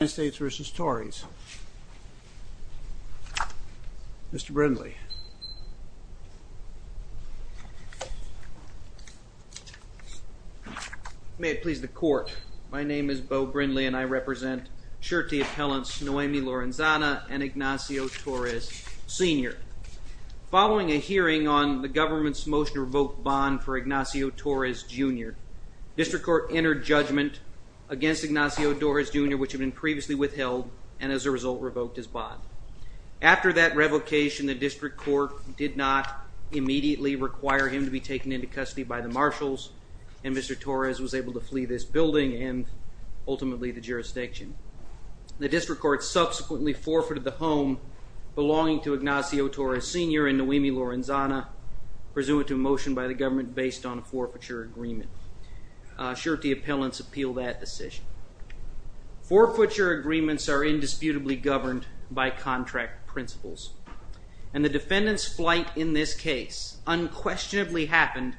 United States v. Tories. Mr. Brindley. May it please the court. My name is Bo Brindley and I represent surety appellants Noemi Lorenzana and Ignacio Torres Sr. Following a hearing on the government's motion to revoke bond for Ignacio Torres Jr., district court entered judgment against Ignacio Torres Jr. which had been previously withheld and as a result revoked his bond. After that revocation the district court did not immediately require him to be taken into custody by the marshals and Mr. Torres was able to flee this building and ultimately the jurisdiction. The district court subsequently forfeited the home belonging to Ignacio Torres Sr. and Noemi Lorenzana pursuant to a motion by the government based on a forfeiture agreement. Surety appellants appeal that decision. Forfeiture agreements are indisputably governed by contract principles and the defendant's flight in this case unquestionably happened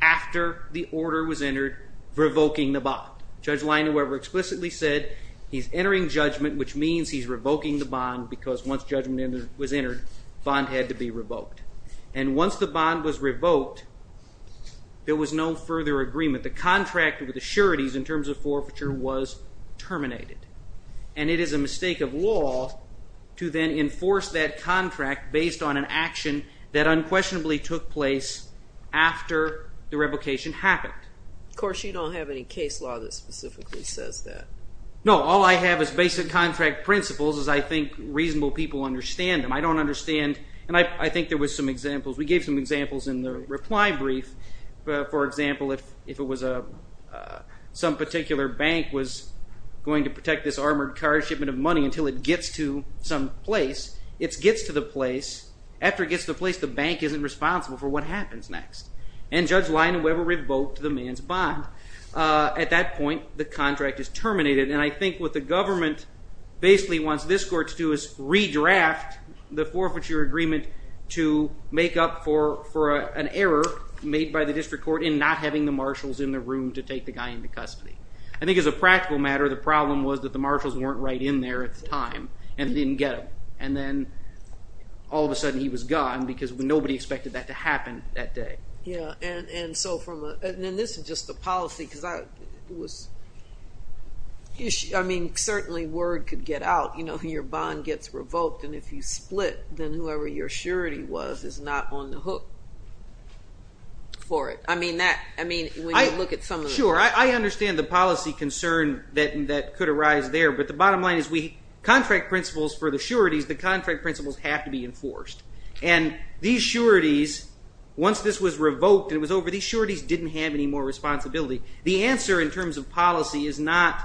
after the order was entered revoking the bond. Judge Leinweber explicitly said he's entering judgment which means he's revoking the bond because once judgment was entered bond had to be revoked and once the bond was revoked there was no further agreement. The contract with the sureties in terms of forfeiture was terminated and it is a mistake of law to then enforce that contract based on an action that unquestionably took place after the revocation happened. Of course you don't have any case law that specifically says that. No, all I have is basic contract principles as I think reasonable people understand them. I don't understand and I think there was some examples we gave some examples in the reply brief but for example if it was a some particular bank was going to protect this armored car shipment of money until it gets to some place, it gets to the place, after it gets the place the bank isn't responsible for what happens next and Judge Leinweber revoked the man's bond. At that point the contract is terminated and I think what the government basically wants this court to do is redraft the forfeiture agreement to make up for for an error made by the district court in not having the marshals in the room to take the guy into custody. I think as a practical matter the problem was that the marshals weren't right in there at the time and didn't get him and then all of a sudden he was gone because nobody expected that to happen that day. Yeah and so from and this is just the policy because I was I mean certainly word could get out you know your bond gets revoked and if you split then whoever your surety was is not on the hook for it. I mean that I mean I look at some of it. Sure I understand the policy concern that that could arise there but the bottom line is we contract principles for the sureties the contract principles have to be enforced and these sureties once this was revoked it was over these sureties didn't have any more responsibility. The answer in terms of policy is not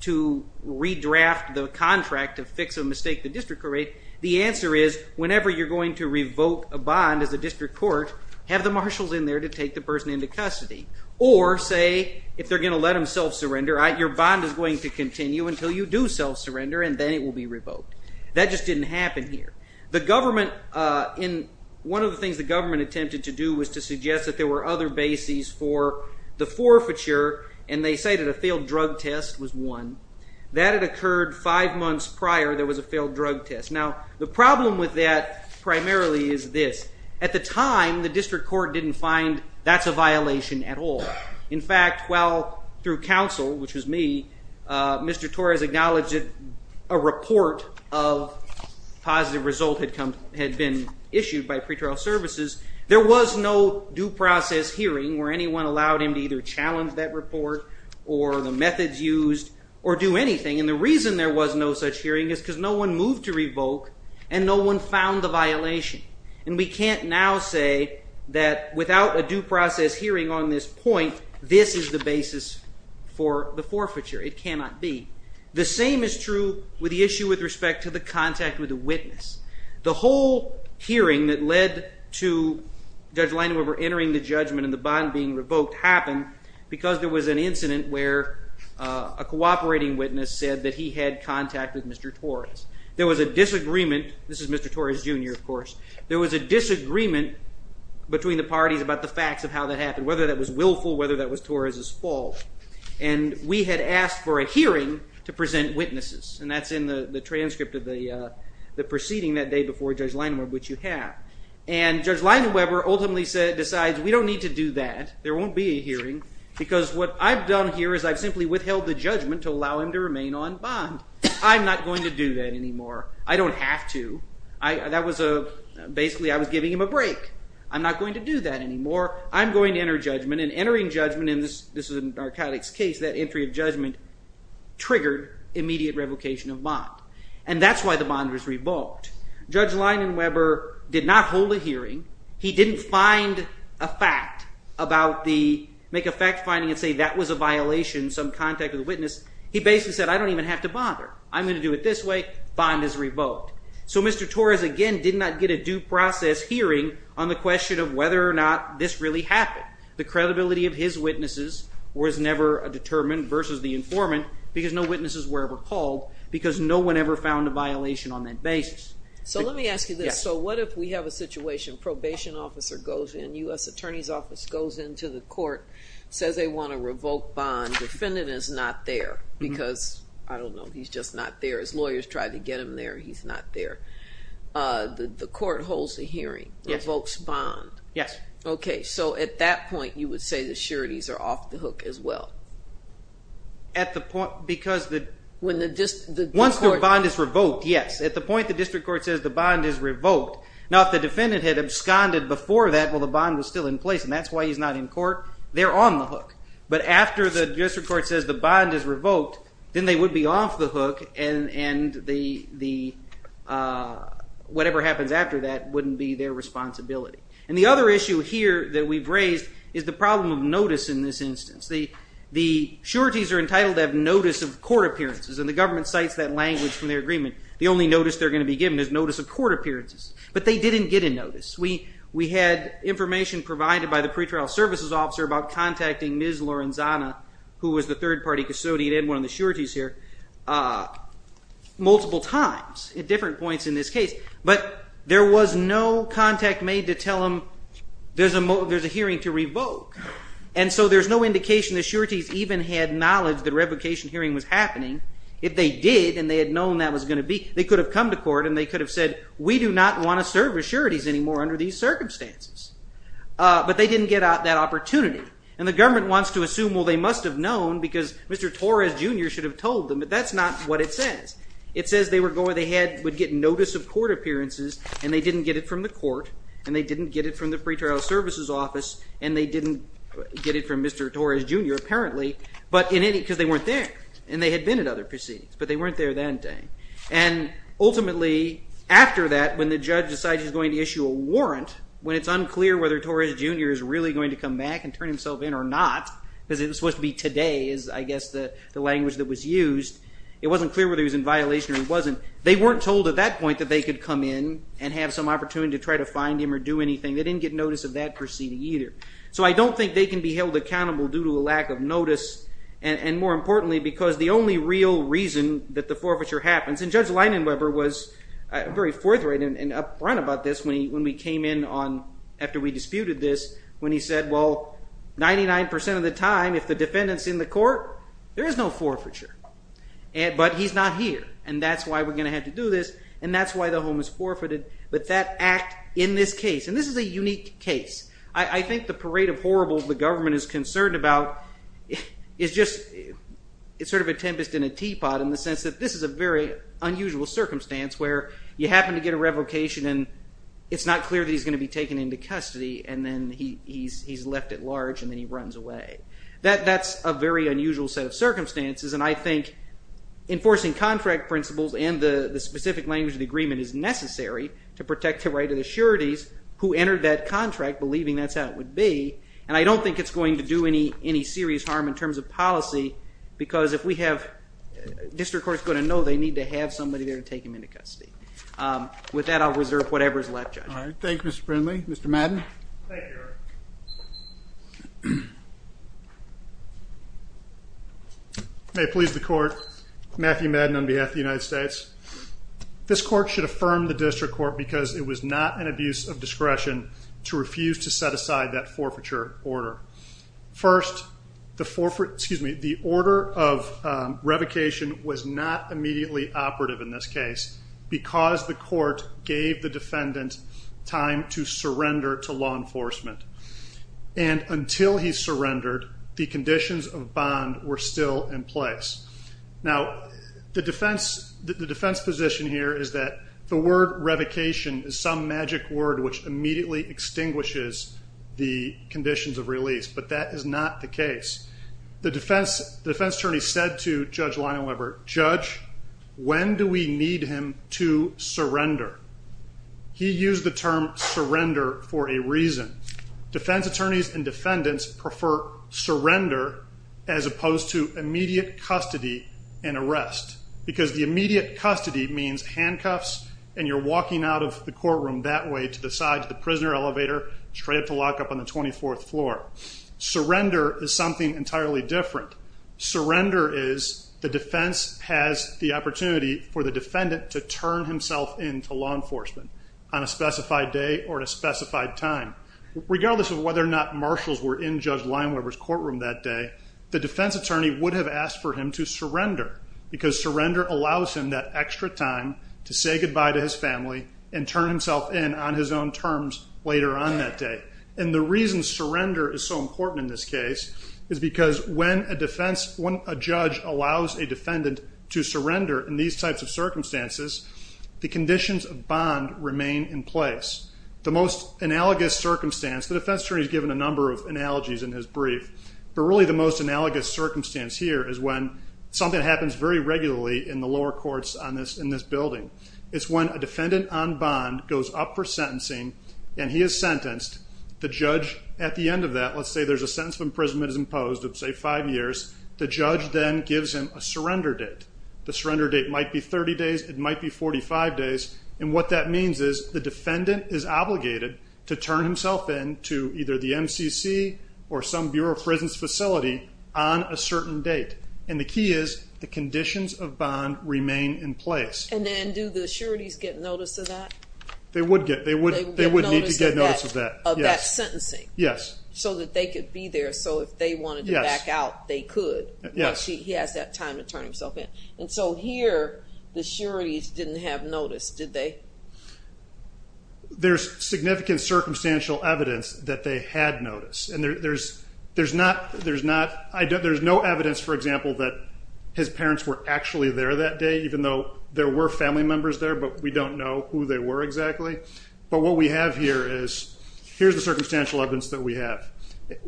to redraft the contract of fix a mistake the district correct the answer is whenever you're going to revoke a bond as a district court have the marshals in there to take the person into custody or say if they're going to let him self-surrender right your bond is going to continue until you do self-surrender and then it will be revoked. That just didn't happen here. The government in one of the things the government attempted to do was to suggest that there were other bases for the forfeiture and they say that a failed drug test was one that had occurred five months prior there was a failed drug test. Now the problem with that primarily is this at the time the district court didn't find that's a violation at all. In fact well through counsel which was me Mr. Torres acknowledged it a report of positive result had come had been issued by pretrial services there was no due process hearing where anyone allowed him to either challenge that report or the methods used or do anything and the reason there was no such hearing is because no one moved to revoke and no one found the violation and we can't now say that without a due process hearing on this point this is the basis for the forfeiture. It cannot be. The same is true with the issue with respect to the contact with the witness. The whole hearing that led to Judge Landau entering the judgment and the bond being revoked happened because there was an incident where a cooperating witness said that he had contact with Mr. Torres. There was a disagreement this is Mr. Torres jr. of course there was a disagreement between the parties about the facts of how that happened whether that was willful whether that was Torres's fault and we had asked for a hearing to present witnesses and that's in the the transcript of the the proceeding that day before Judge Landau which you have and Judge Landau Weber ultimately said decides we don't need to do that there won't be a hearing because what I've done here is I've gone to remain on bond I'm not going to do that anymore I don't have to I that was a basically I was giving him a break I'm not going to do that anymore I'm going to enter judgment and entering judgment in this this is a narcotics case that entry of judgment triggered immediate revocation of bond and that's why the bond was revoked. Judge Landau Weber did not hold a hearing he didn't find a fact about the make a fact finding and say that was a violation some contact of the witness he basically said I don't even have to bother I'm going to do it this way bond is revoked so Mr. Torres again did not get a due process hearing on the question of whether or not this really happened the credibility of his witnesses was never a determined versus the informant because no witnesses were ever called because no one ever found a violation on that basis. So let me ask you this so what if we have a situation probation officer goes in US Attorney's Office goes into the court says they want to revoke bond defendant is not there because I don't know he's just not there as lawyers tried to get him there he's not there the court holds the hearing yes folks bond yes okay so at that point you would say the sureties are off the hook as well. At the point because the when the just the once the bond is revoked yes at the point the district court says the bond is revoked now if the defendant had absconded before that well the bond was still in court they're on the hook but after the district court says the bond is revoked then they would be off the hook and and the the whatever happens after that wouldn't be their responsibility and the other issue here that we've raised is the problem of notice in this instance the the sureties are entitled to have notice of court appearances and the government cites that language from their agreement the only notice they're going to be given is notice of court appearances but they didn't get a notice we we had information provided by the pretrial services officer about contacting Ms. Lorenzana who was the third party custodian and one of the sureties here multiple times at different points in this case but there was no contact made to tell him there's a moment there's a hearing to revoke and so there's no indication the sureties even had knowledge that revocation hearing was happening if they did and they had known that was going to be they could have come to court and they could have said we do not want to serve as sureties anymore under these that opportunity and the government wants to assume well they must have known because mr. Torres jr. should have told them but that's not what it says it says they were going they had would get notice of court appearances and they didn't get it from the court and they didn't get it from the pretrial services office and they didn't get it from mr. Torres jr. apparently but in any because they weren't there and they had been at other proceedings but they weren't there that day and ultimately after that when the judge decides he's going to issue a going to come back and turn himself in or not because it was supposed to be today is I guess the language that was used it wasn't clear whether he was in violation or wasn't they weren't told at that point that they could come in and have some opportunity to try to find him or do anything they didn't get notice of that proceeding either so I don't think they can be held accountable due to a lack of notice and more importantly because the only real reason that the forfeiture happens and judge Leinenweber was very forthright and upfront about this when he when we came in on after we disputed this when he said well ninety nine percent of the time if the defendants in the court there is no forfeiture and but he's not here and that's why we're gonna have to do this and that's why the home is forfeited but that act in this case and this is a unique case I think the parade of horribles the government is concerned about is just it's sort of a tempest in a teapot in the sense that this is a very unusual circumstance where you happen to get a revocation and it's not clear that he's going to be taken into custody and then he's left at large and then he runs away that that's a very unusual set of circumstances and I think enforcing contract principles and the specific language of the agreement is necessary to protect the right of the sureties who entered that contract believing that's how it would be and I don't think it's going to do any any serious harm in terms of policy because if we have district courts going to know they need to have somebody there to take him into custody with that I'll reserve whatever is left all right thank you mr. Brindley mr. Madden may please the court Matthew Madden on behalf the United States this court should affirm the district court because it was not an abuse of discretion to refuse to set aside that forfeiture order first the forfeit excuse me the immediately operative in this case because the court gave the defendant time to surrender to law enforcement and until he surrendered the conditions of bond were still in place now the defense the defense position here is that the word revocation is some magic word which immediately extinguishes the conditions of release but that is not the case the defense defense attorney said to judge Lionel Everett judge when do we need him to surrender he used the term surrender for a reason defense attorneys and defendants prefer surrender as opposed to immediate custody and arrest because the immediate custody means handcuffs and you're walking out of the courtroom that way to the side to the prisoner elevator straight up to lock up on the 24th floor surrender is something entirely different surrender is the defense has the opportunity for the defendant to turn himself in to law enforcement on a specified day or at a specified time regardless of whether or not marshals were in judge line where was courtroom that day the defense attorney would have asked for him to surrender because surrender allows him that extra time to say goodbye to his family and turn himself in on his own terms later on that day and the reason surrender is so important in this case is because when a defense when a judge allows a defendant to surrender in these types of circumstances the conditions of bond remain in place the most analogous circumstance the defense attorneys given a number of analogies in his brief really the most analogous circumstance here is when something happens very regularly in the lower courts on this in this building is when a defendant on bond goes up for the end of that let's say there's a sentence of imprisonment is imposed of say five years the judge then gives him a surrender date the surrender date might be 30 days it might be 45 days and what that means is the defendant is obligated to turn himself in to either the MCC or some Bureau of Prisons facility on a certain date and the key is the conditions of bond remain in place and then do the sureties get notice of that they would get they so that they could be there so if they wanted to back out they could yes he has that time to turn himself in and so here the sureties didn't have noticed did they there's significant circumstantial evidence that they had noticed and there's there's not there's not I don't there's no evidence for example that his parents were actually there that day even though there were family members there but we don't know who they were exactly but what we have here is here's circumstantial evidence that we have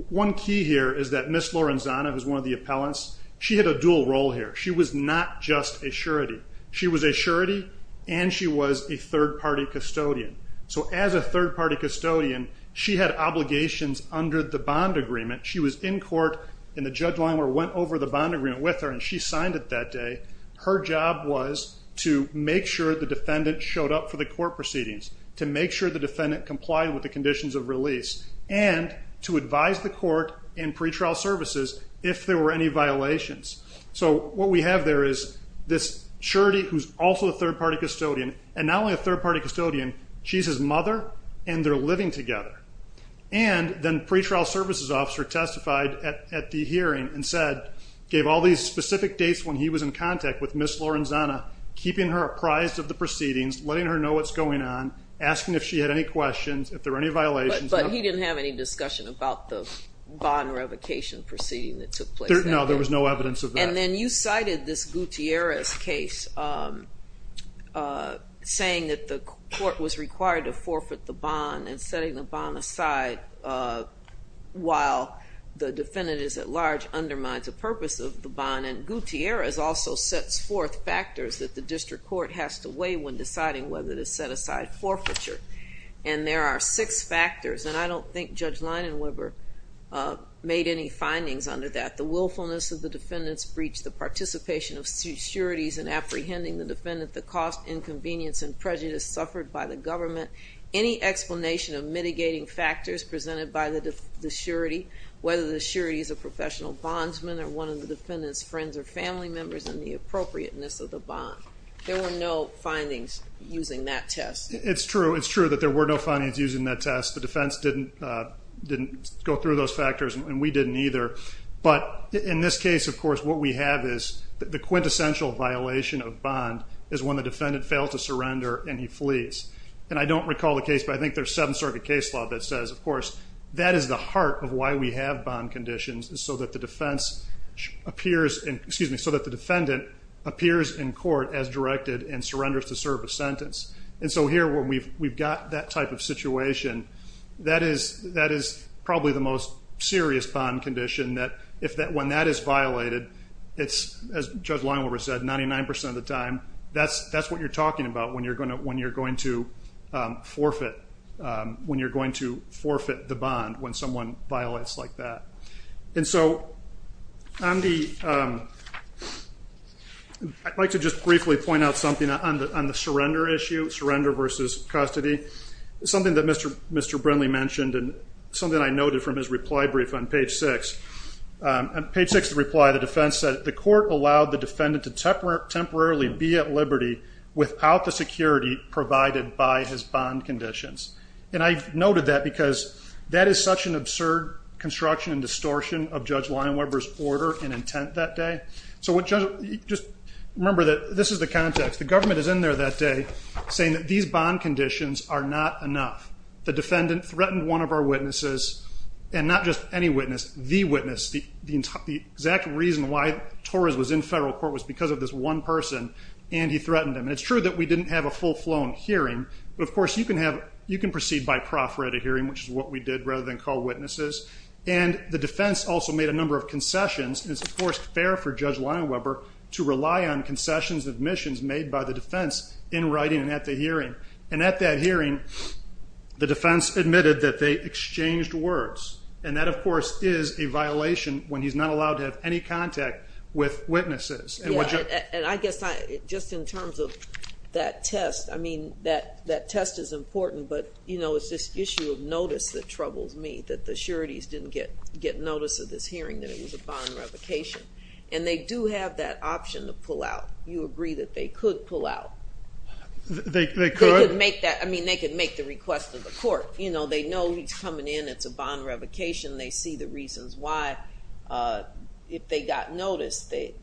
one key here is that Miss Lorenzano is one of the appellants she had a dual role here she was not just a surety she was a surety and she was a third-party custodian so as a third-party custodian she had obligations under the bond agreement she was in court in the judge line where went over the bond agreement with her and she signed it that day her job was to make sure the defendant showed up for the court proceedings to make sure the defendant complied with the conditions of release and to advise the court and pretrial services if there were any violations so what we have there is this surety who's also a third-party custodian and not only a third-party custodian she's his mother and they're living together and then pretrial services officer testified at the hearing and said gave all these specific dates when he was in contact with Miss Lorenzano keeping her apprised of the proceedings letting her know what's on asking if she had any questions if there any violations but he didn't have any discussion about the bond revocation proceeding that took place no there was no evidence of and then you cited this Gutierrez case saying that the court was required to forfeit the bond and setting the bond aside while the defendant is at large undermines the purpose of the bond and Gutierrez also sets forth factors that the district court has to weigh when deciding whether to set aside forfeiture and there are six factors and I don't think Judge Leinenweber made any findings under that the willfulness of the defendants breached the participation of securities and apprehending the defendant the cost inconvenience and prejudice suffered by the government any explanation of mitigating factors presented by the surety whether the surety is a professional bondsman or one of the defendants friends or family members and the appropriateness of the bond there were no findings using that test it's true it's true that there were no findings using that test the defense didn't didn't go through those factors and we didn't either but in this case of course what we have is the quintessential violation of bond is when the defendant failed to surrender and he flees and I don't recall the case but I think there's seven circuit case law that says of course that is the heart of why we have bond conditions so that the defendant appears in court as directed and surrenders to serve a sentence and so here we've we've got that type of situation that is that is probably the most serious bond condition that if that when that is violated it's as Judge Leinenweber said 99% of the time that's that's what you're talking about when you're going to when you're going to forfeit when you're going to forfeit the I'd like to just briefly point out something on the on the surrender issue surrender versus custody something that mr. mr. Brindley mentioned and something I noted from his reply brief on page 6 and page 6 to reply the defense said the court allowed the defendant to temper temporarily be at liberty without the security provided by his bond conditions and I noted that because that is such an absurd construction and distortion of Judge Leinenweber's order and intent that day so what judge just remember that this is the context the government is in there that day saying that these bond conditions are not enough the defendant threatened one of our witnesses and not just any witness the witness the the exact reason why Torres was in federal court was because of this one person and he threatened him and it's true that we didn't have a full flown hearing but of course you can have you can proceed by proffered a hearing which is what we did rather than call witnesses and the defense also made a fair for Judge Leinenweber to rely on concessions of missions made by the defense in writing and at the hearing and at that hearing the defense admitted that they exchanged words and that of course is a violation when he's not allowed to have any contact with witnesses and what you and I guess I just in terms of that test I mean that that test is important but you know it's this issue of notice that troubles me that the sureties didn't get get notice of this hearing that it was a bond revocation and they do have that option to pull out you agree that they could pull out they could make that I mean they could make the request of the court you know they know he's coming in it's a bond revocation they see the reasons why if they got noticed they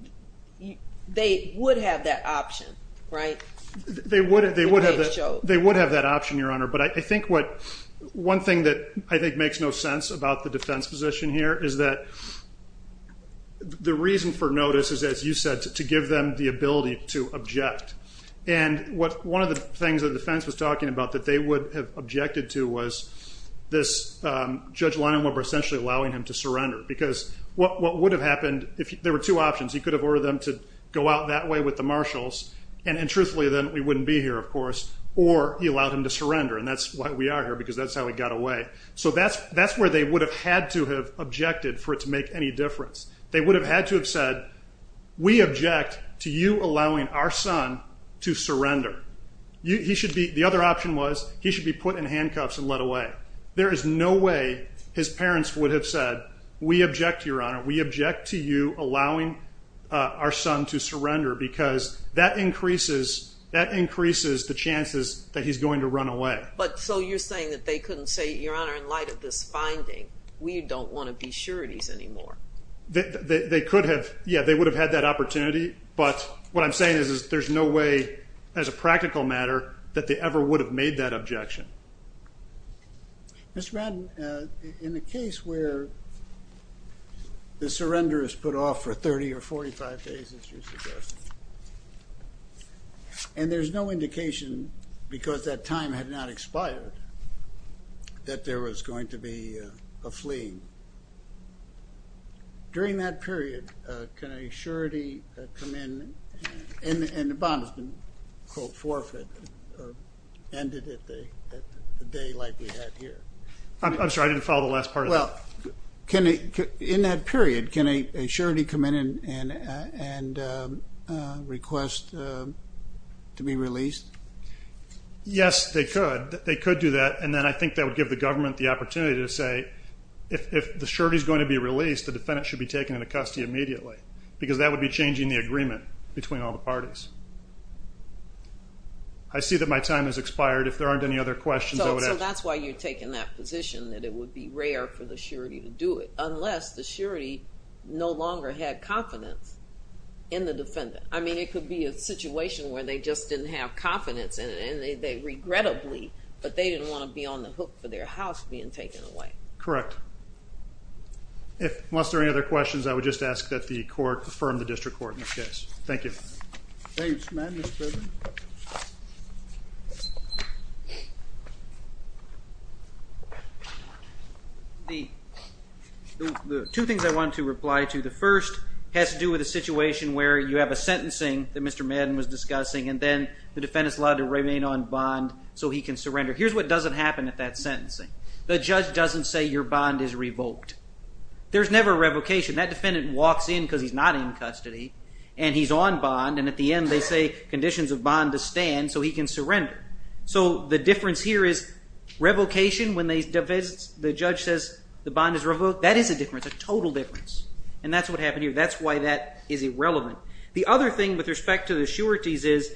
they would have that option right they would they would have they would have that option your honor but I think what one thing that I think makes no sense about the defense position here is that the reason for notice is as you said to give them the ability to object and what one of the things that defense was talking about that they would have objected to was this Judge Leinenweber essentially allowing him to surrender because what would have happened if there were two options you could have ordered them to go out that way with the marshals and truthfully then we wouldn't be here of course or he allowed him to surrender and that's why we are here because that's how we got away so that's that's where they would have had to have objected for it to make any difference they would have had to have said we object to you allowing our son to surrender you should be the other option was he should be put in handcuffs and let away there is no way his parents would have said we object your honor we object to you allowing our son to surrender because that increases that increases the chances that he's going to run away but so you're saying that they couldn't say your honor in light of this finding we don't want to be sure it is anymore they could have yeah they would have had that opportunity but what I'm saying is there's no way as a practical matter that they ever would have made that objection mr. Madden in the case where the surrender is put off for 30 or 45 days and there's no indication because that time had not expired that there was going to be a fleeing during that period can a surety come in and the bond has been quote forfeit ended at the day like we had here I'm sorry I didn't follow the last part well can it in that period can a surety come in and and request to be released yes they could they could do that and then I think that would give the government the opportunity to say if the surety is going to be released the defendant should be taken into custody immediately because that would be changing the agreement between all the parties I see that my time has expired if there aren't any other questions that's why you're taking that position that it would be rare for the surety to do it unless the surety no longer had confidence in the defendant I mean it could be a situation where they just didn't have confidence and they regrettably but they didn't want to be on the hook for their house being taken away correct if unless there any other questions I would just ask that the two things I want to reply to the first has to do with a situation where you have a sentencing that mr. Madden was discussing and then the defendants allowed to remain on bond so he can surrender here's what doesn't happen at that sentencing the judge doesn't say your bond is revoked there's never a revocation that defendant walks in because he's not in custody and he's on bond and at the end they say conditions of bond to stand so he can surrender so the difference here is revocation when they devise the judge says the bond is that is a difference a total difference and that's what happened here that's why that is irrelevant the other thing with respect to the sureties is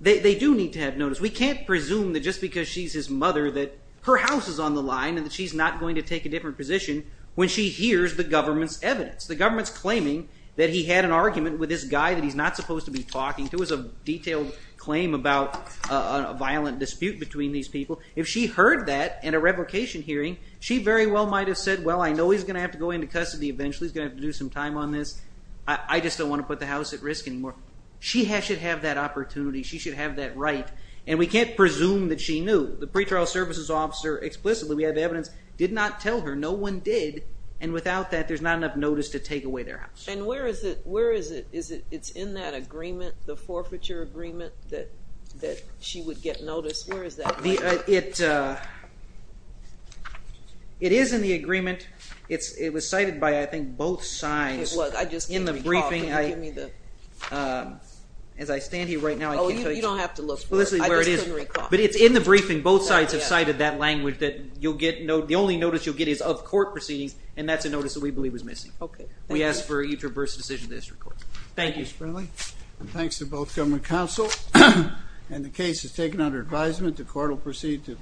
they do need to have notice we can't presume that just because she's his mother that her house is on the line and that she's not going to take a different position when she hears the government's evidence the government's claiming that he had an argument with this guy that he's not supposed to be talking to is a detailed claim about a violent dispute between these people if she heard that in a revocation hearing she very well might have said well I know he's gonna have to go into custody eventually he's gonna have to do some time on this I just don't want to put the house at risk anymore she has should have that opportunity she should have that right and we can't presume that she knew the pretrial services officer explicitly we have evidence did not tell her no one did and without that there's not enough notice to take away their house and where is it where is it is it it's in that agreement the forfeiture agreement that that she would get notice where is that it it is in the agreement it's it was cited by I think both sides what I just in the briefing I mean the as I stand here right now you don't have to look for this is where it is but it's in the briefing both sides have cited that language that you'll get no the only notice you'll get is of court proceedings and that's a notice that we believe was missing okay we asked for you to reverse decision this report thank you thanks to both government counsel and the case is taken under advisement the court will proceed to